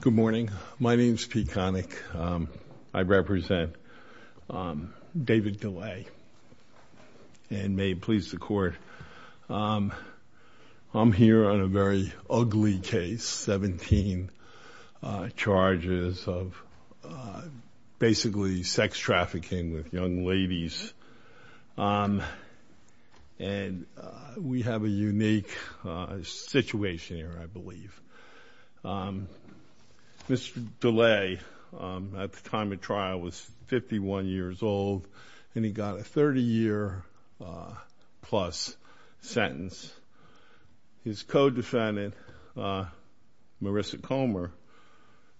Good morning. My name is Pete Connick. I represent David Delay and may it please the court. I'm here on a very ugly case, 17 charges of basically sex trafficking with young ladies. And we have a unique situation here, I believe. Mr. Delay, at the time of trial, was 51 years old and he got a 30-year-plus sentence. His co-defendant, Marissa Comer,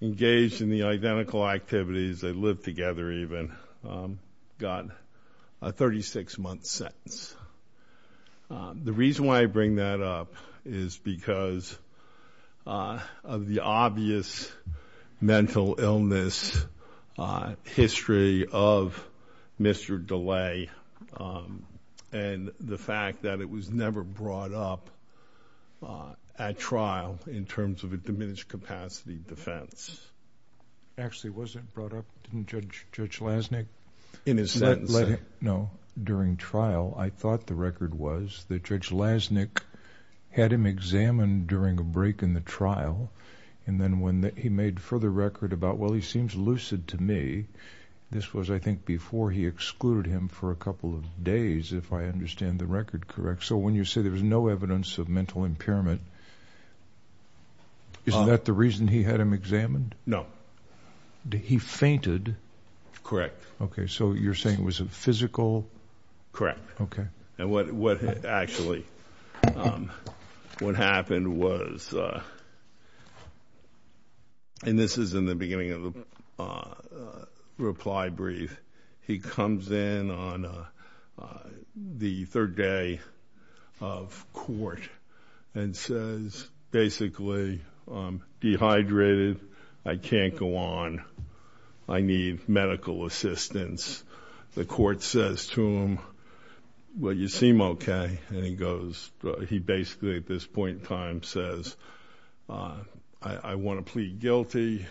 engaged in the case. The reason why I bring that up is because of the obvious mental illness history of Mr. Delay and the fact that it was never brought up at trial in terms of a diminished capacity defense. Actually, it wasn't brought up? Didn't Judge Lasnik let him know during trial? I thought the record was that Judge Lasnik had him examined during a break in the trial, and then when he made further record about, well, he seems lucid to me. This was, I think, before he excluded him for a couple of days, if I understand the record correct. So when you say there was no evidence of mental impairment, isn't that the reason he had him examined? No. He fainted? Correct. Okay. So you're saying it was a physical... Correct. Okay. And what actually, what happened was, and this is in the beginning of the reply brief, he comes in on the third day of court and says basically, dehydrated, I can't go on, I need medical assistance. The court says to him, well, you seem okay. And he goes, he basically at this point in time says, I want to plead guilty.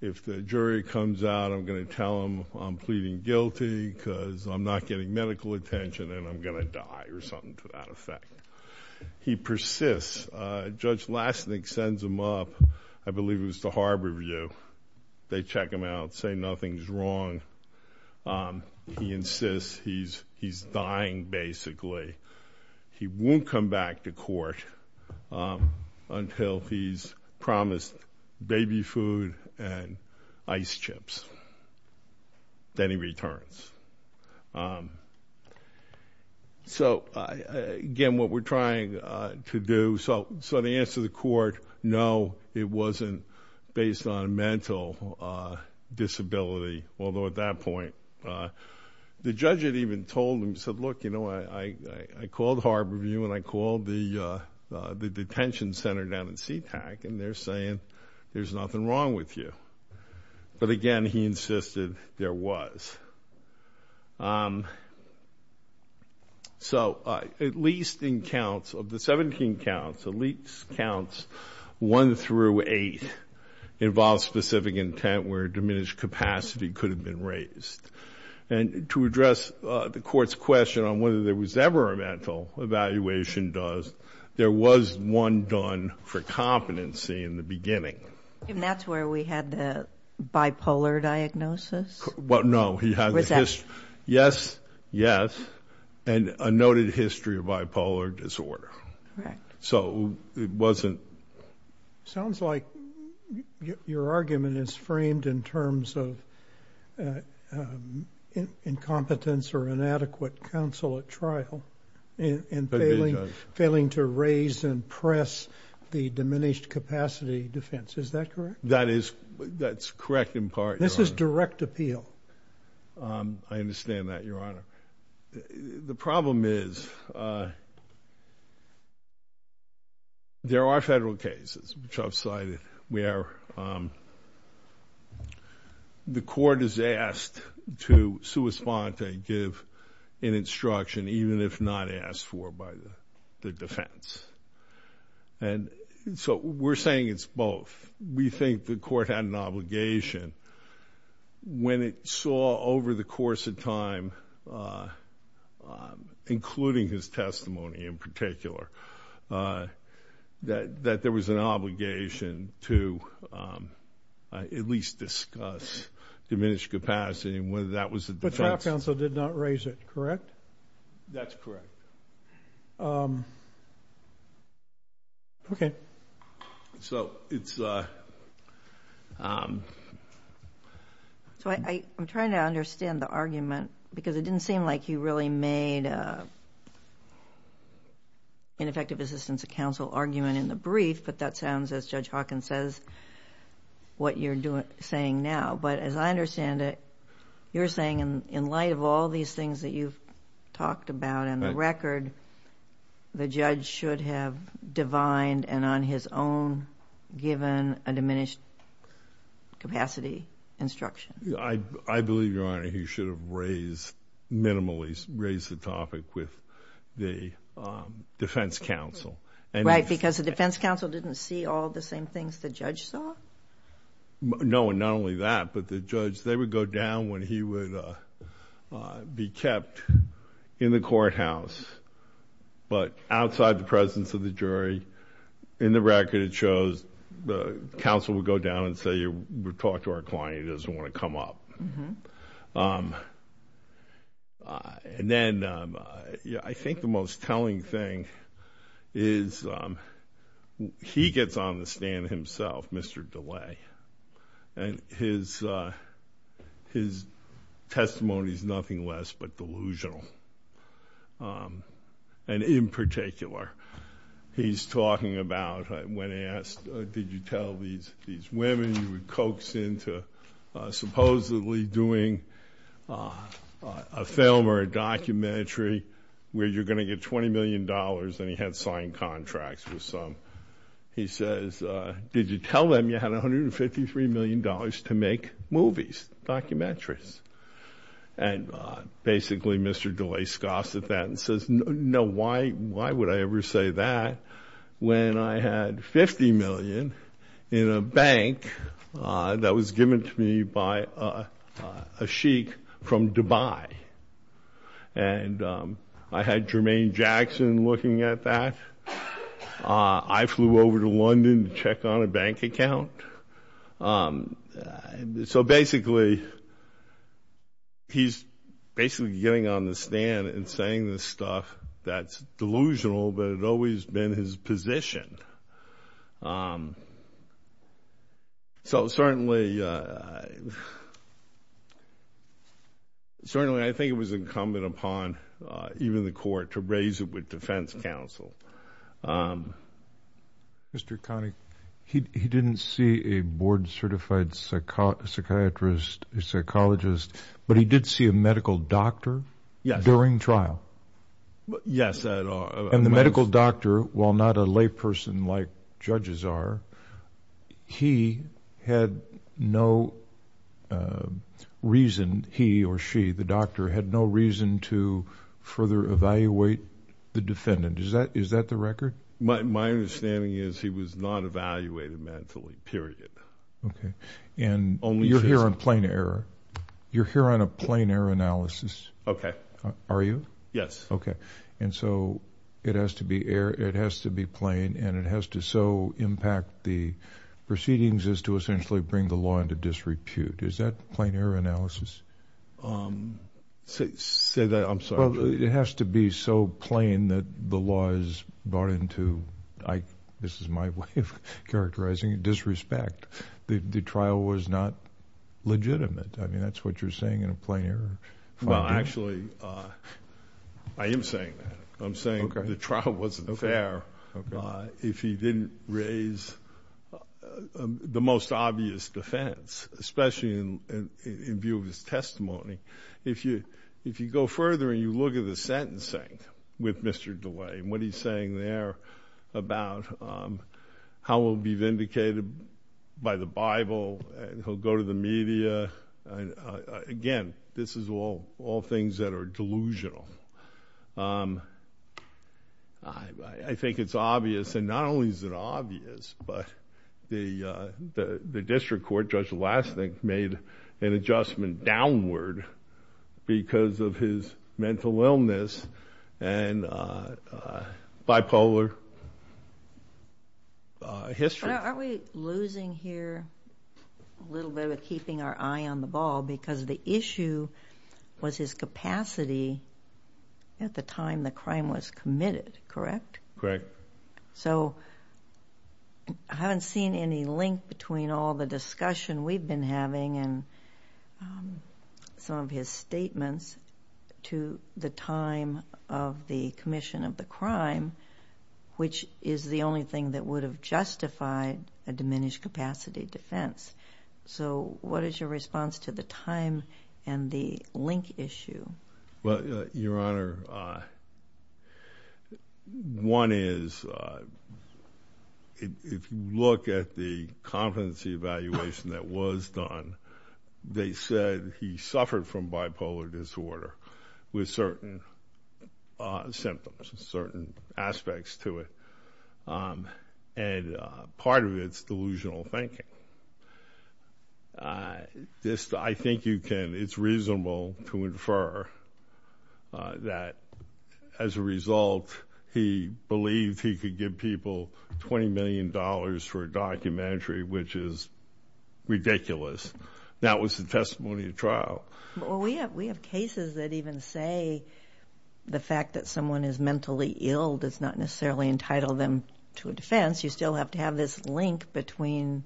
If the jury comes out, I'm going to tell them I'm pleading guilty because I'm not getting medical attention and I'm going to die or something to that effect. He persists. Judge Lasnik sends him up, I believe it was to Harborview. They check him out, say nothing's wrong. He insists he's dying basically. He won't come back to court until he's promised baby food and ice chips. Then he returns. So, again, what we're trying to do, so the answer to the court, no, it wasn't based on mental disability. Although at that point, the judge had even told him, said, look, you know, I called Harborview and I called the detention center down in Sea-Tac and they're saying there's nothing wrong with you. But, again, he insisted there was. So, at least in counts, of the 17 counts, at least counts 1 through 8 involve specific intent where diminished capacity could have been raised. And to address the court's question on whether there was ever a mental evaluation does, there was one done for competency in the beginning. And that's where we had the bipolar diagnosis? Well, no, he had, yes, yes, and a noted history of bipolar disorder. So, it wasn't. Sounds like your argument is framed in terms of incompetence or inadequate counsel at trial and failing to raise and press the diminished capacity defense. Is that correct? That is, that's correct in part. This is direct appeal. I understand that, Your Honor. The problem is, there are federal cases, which I've cited, where the court is asked to sui sponte, give an instruction, even if not asked for by the defense. And so, we're saying it's both. We think the court had an obligation when it saw over the course of time, including his testimony in particular, that there was an obligation to at least discuss diminished capacity and whether that was the defense. But trial counsel did not raise it, correct? That's correct. Okay. So, I'm trying to understand the argument, because it didn't seem like you really made ineffective assistance of counsel argument in the brief, but that sounds, as Judge Hawkins says, what you're saying now. But as I understand it, you're saying, in light of all these things that you've talked about on the record, the judge should have divined and on his own given a diminished capacity instruction. I believe, Your Honor, he should have raised, minimally raised the topic with the defense counsel. Right, because the defense counsel didn't see all the same things the judge saw? No, and not only that, but the judge, they would go down when he would be kept in the courthouse, but outside the presence of the jury. In the record, it shows the counsel would go down and say, we've talked to our client, he doesn't want to come up. And then, I think the most telling thing is he gets on the stand himself, Mr. DeLay, and his testimony is nothing less but delusional. And in particular, he's talking about when they asked, did you tell these women you would coax into supposedly doing a film or a documentary where you're going to get $20 million, and he had signed contracts with some. He says, did you tell them you had $153 million to make movies, documentaries? And basically, Mr. DeLay scoffs at that and says, no, why would I ever say that when I had $50 million in a bank that was given to me by a sheik from Dubai? And I had Jermaine Jackson looking at that. I flew over to London to check on a bank account. So basically, he's basically getting on the stand and saying this stuff that's delusional, but it had always been his position. So certainly, I think it was incumbent upon even the court to raise it with defense counsel. Mr. Connick, he didn't see a board-certified psychiatrist, a psychologist, but he did see a medical doctor during trial? Yes. And the medical doctor, while not a layperson like judges are, he had no reason, he or she, the doctor, had no reason to further evaluate the defendant. Is that the record? My understanding is he was not evaluated mentally, period. Okay. And you're here on plain error. You're here on a plain error analysis. Okay. Are you? Yes. Okay. And so it has to be plain and it has to so impact the proceedings as to essentially bring the law into disrepute. Is that plain error analysis? Say that. I'm sorry. It has to be so plain that the law is brought into, this is my way of characterizing it, disrespect. The trial was not legitimate. I mean, that's what you're saying in a plain error. Well, actually, I am saying that. I'm saying the trial wasn't fair if he didn't raise the most obvious defense, especially in view of his testimony. If you go further and you look at the sentencing with Mr. DeLay and what he's saying there about how he'll be vindicated by the Bible and he'll go to the media. Again, this is all things that are delusional. I think it's obvious, and not only is it obvious, but the district court, Judge Lasnik, made an adjustment downward because of his mental illness and bipolar history. Aren't we losing here a little bit of keeping our eye on the ball because the issue was his capacity at the time the crime was committed, correct? Correct. So I haven't seen any link between all the discussion we've been having and some of his statements to the time of the commission of the crime, which is the only thing that would have justified a diminished capacity defense. So what is your response to the time and the link issue? Well, Your Honor, one is if you look at the competency evaluation that was done, they said he suffered from bipolar disorder with certain symptoms, certain aspects to it, and part of it is delusional thinking. I think it's reasonable to infer that as a result he believed he could give people $20 million for a documentary, which is ridiculous. That was the testimony of trial. Well, we have cases that even say the fact that someone is mentally ill does not necessarily entitle them to a defense. You still have to have this link between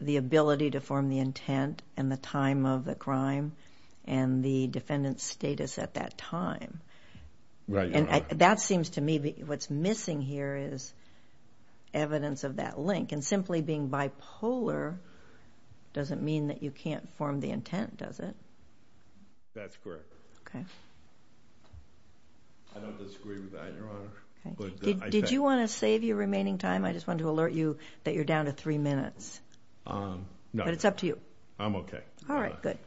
the ability to form the intent and the time of the crime and the defendant's status at that time. Right, Your Honor. That seems to me what's missing here is evidence of that link, and simply being bipolar doesn't mean that you can't form the intent, does it? That's correct. Okay. I don't disagree with that, Your Honor. Did you want to save your remaining time? I just wanted to alert you that you're down to three minutes. No. But it's up to you. I'm okay. All right, good.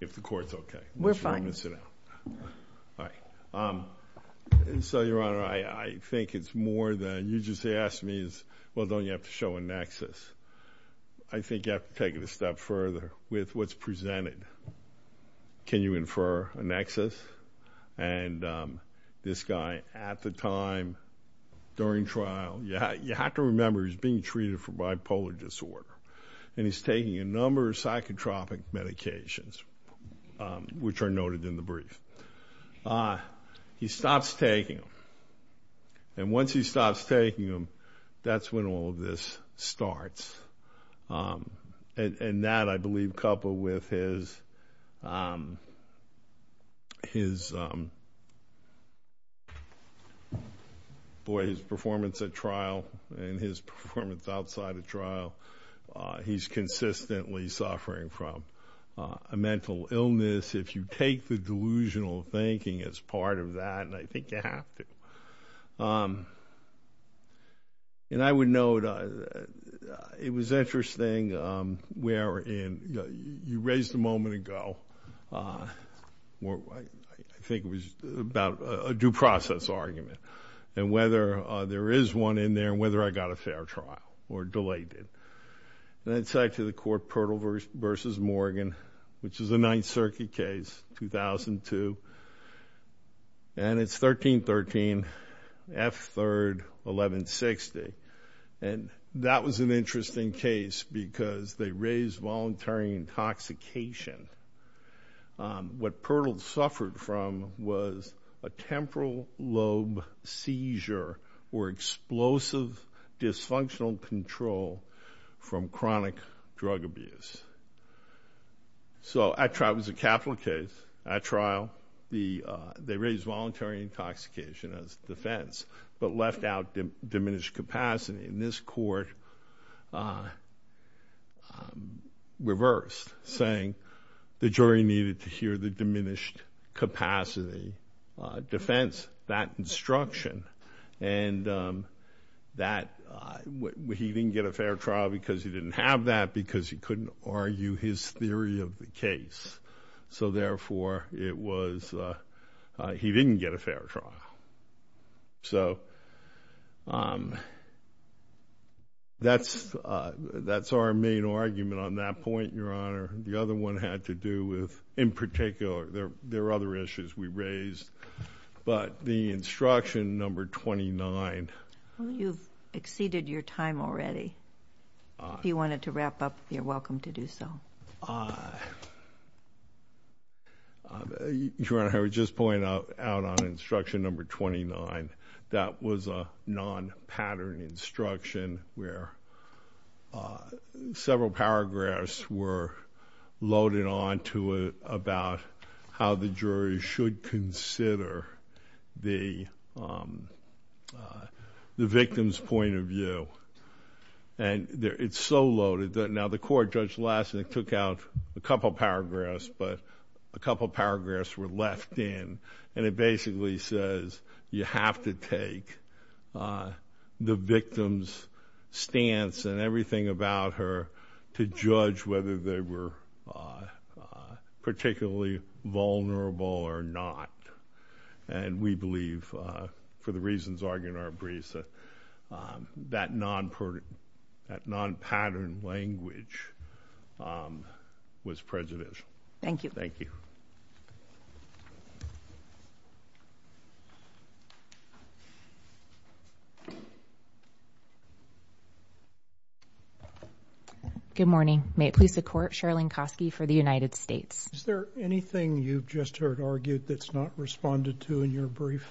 If the Court's okay. We're fine. I'm going to sit down. All right. So, Your Honor, I think it's more than you just asked me is, well, don't you have to show a nexus? I think you have to take it a step further with what's presented. Can you infer a nexus? And this guy at the time during trial, you have to remember he's being treated for bipolar disorder, and he's taking a number of psychotropic medications, which are noted in the brief. He stops taking them. And once he stops taking them, that's when all of this starts. And that, I believe, coupled with his performance at trial and his performance outside of trial, he's consistently suffering from a mental illness. If you take the delusional thinking as part of that, I think you have to. And I would note, it was interesting where in you raised a moment ago, I think it was about a due process argument, and whether there is one in there and whether I got a And then it's actually the court Pirtle v. Morgan, which is a Ninth Circuit case, 2002. And it's 13-13, F-3rd, 11-60. And that was an interesting case because they raised voluntary intoxication. What Pirtle suffered from was a temporal lobe seizure or explosive dysfunctional control from chronic drug abuse. So at trial, it was a capital case. At trial, they raised voluntary intoxication as defense, but left out diminished capacity. And this court reversed, saying the jury needed to hear the diminished capacity defense, that instruction. And he didn't get a fair trial because he didn't have that, because he couldn't argue his theory of the case. So therefore, he didn't get a fair trial. So that's our main argument on that point, Your Honor. The other one had to do with, in particular, there are other issues we raised, but the instruction number 29. You've exceeded your time already. If you wanted to wrap up, you're welcome to do so. Your Honor, I would just point out on instruction number 29, that was a non-pattern instruction where several paragraphs were loaded onto it about how the jury should consider the victim's point of view. And it's so loaded that now the court, Judge Lassen, took out a couple paragraphs, but a couple paragraphs were left in, and it basically says you have to take the victim's stance and everything about her to judge whether they were particularly vulnerable or not. And we believe, for the reasons argued in our briefs, that non-pattern language was prejudicial. Thank you. Thank you. Good morning. May it please the Court, Sherrilyn Kosky for the United States. Is there anything you've just heard argued that's not responded to in your brief?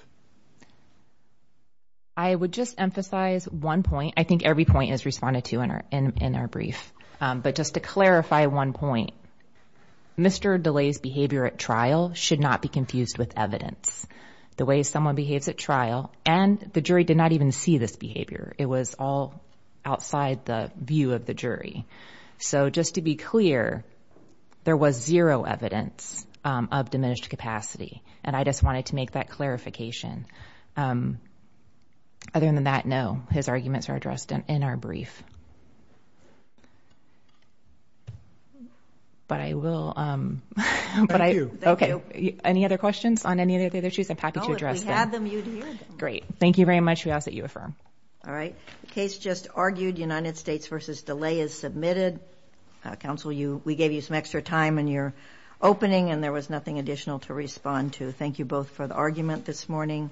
I would just emphasize one point. I think every point is responded to in our brief. But just to clarify one point, Mr. DeLay's behavior at trial should not be confused with evidence. The way someone behaves at trial, and the jury did not even see this behavior. It was all outside the view of the jury. So just to be clear, there was zero evidence of diminished capacity, and I just wanted to make that clarification. Other than that, no. His arguments are addressed in our brief. But I will... Thank you. Okay. Any other questions on any of the other issues? I'm happy to address them. Oh, if we had them, you'd hear them. Great. Thank you very much. We ask that you affirm. All right. The case just argued. United States v. DeLay is submitted. Counsel, we gave you some extra time in your opening, and there was nothing additional to respond to. Thank you both for the argument this morning.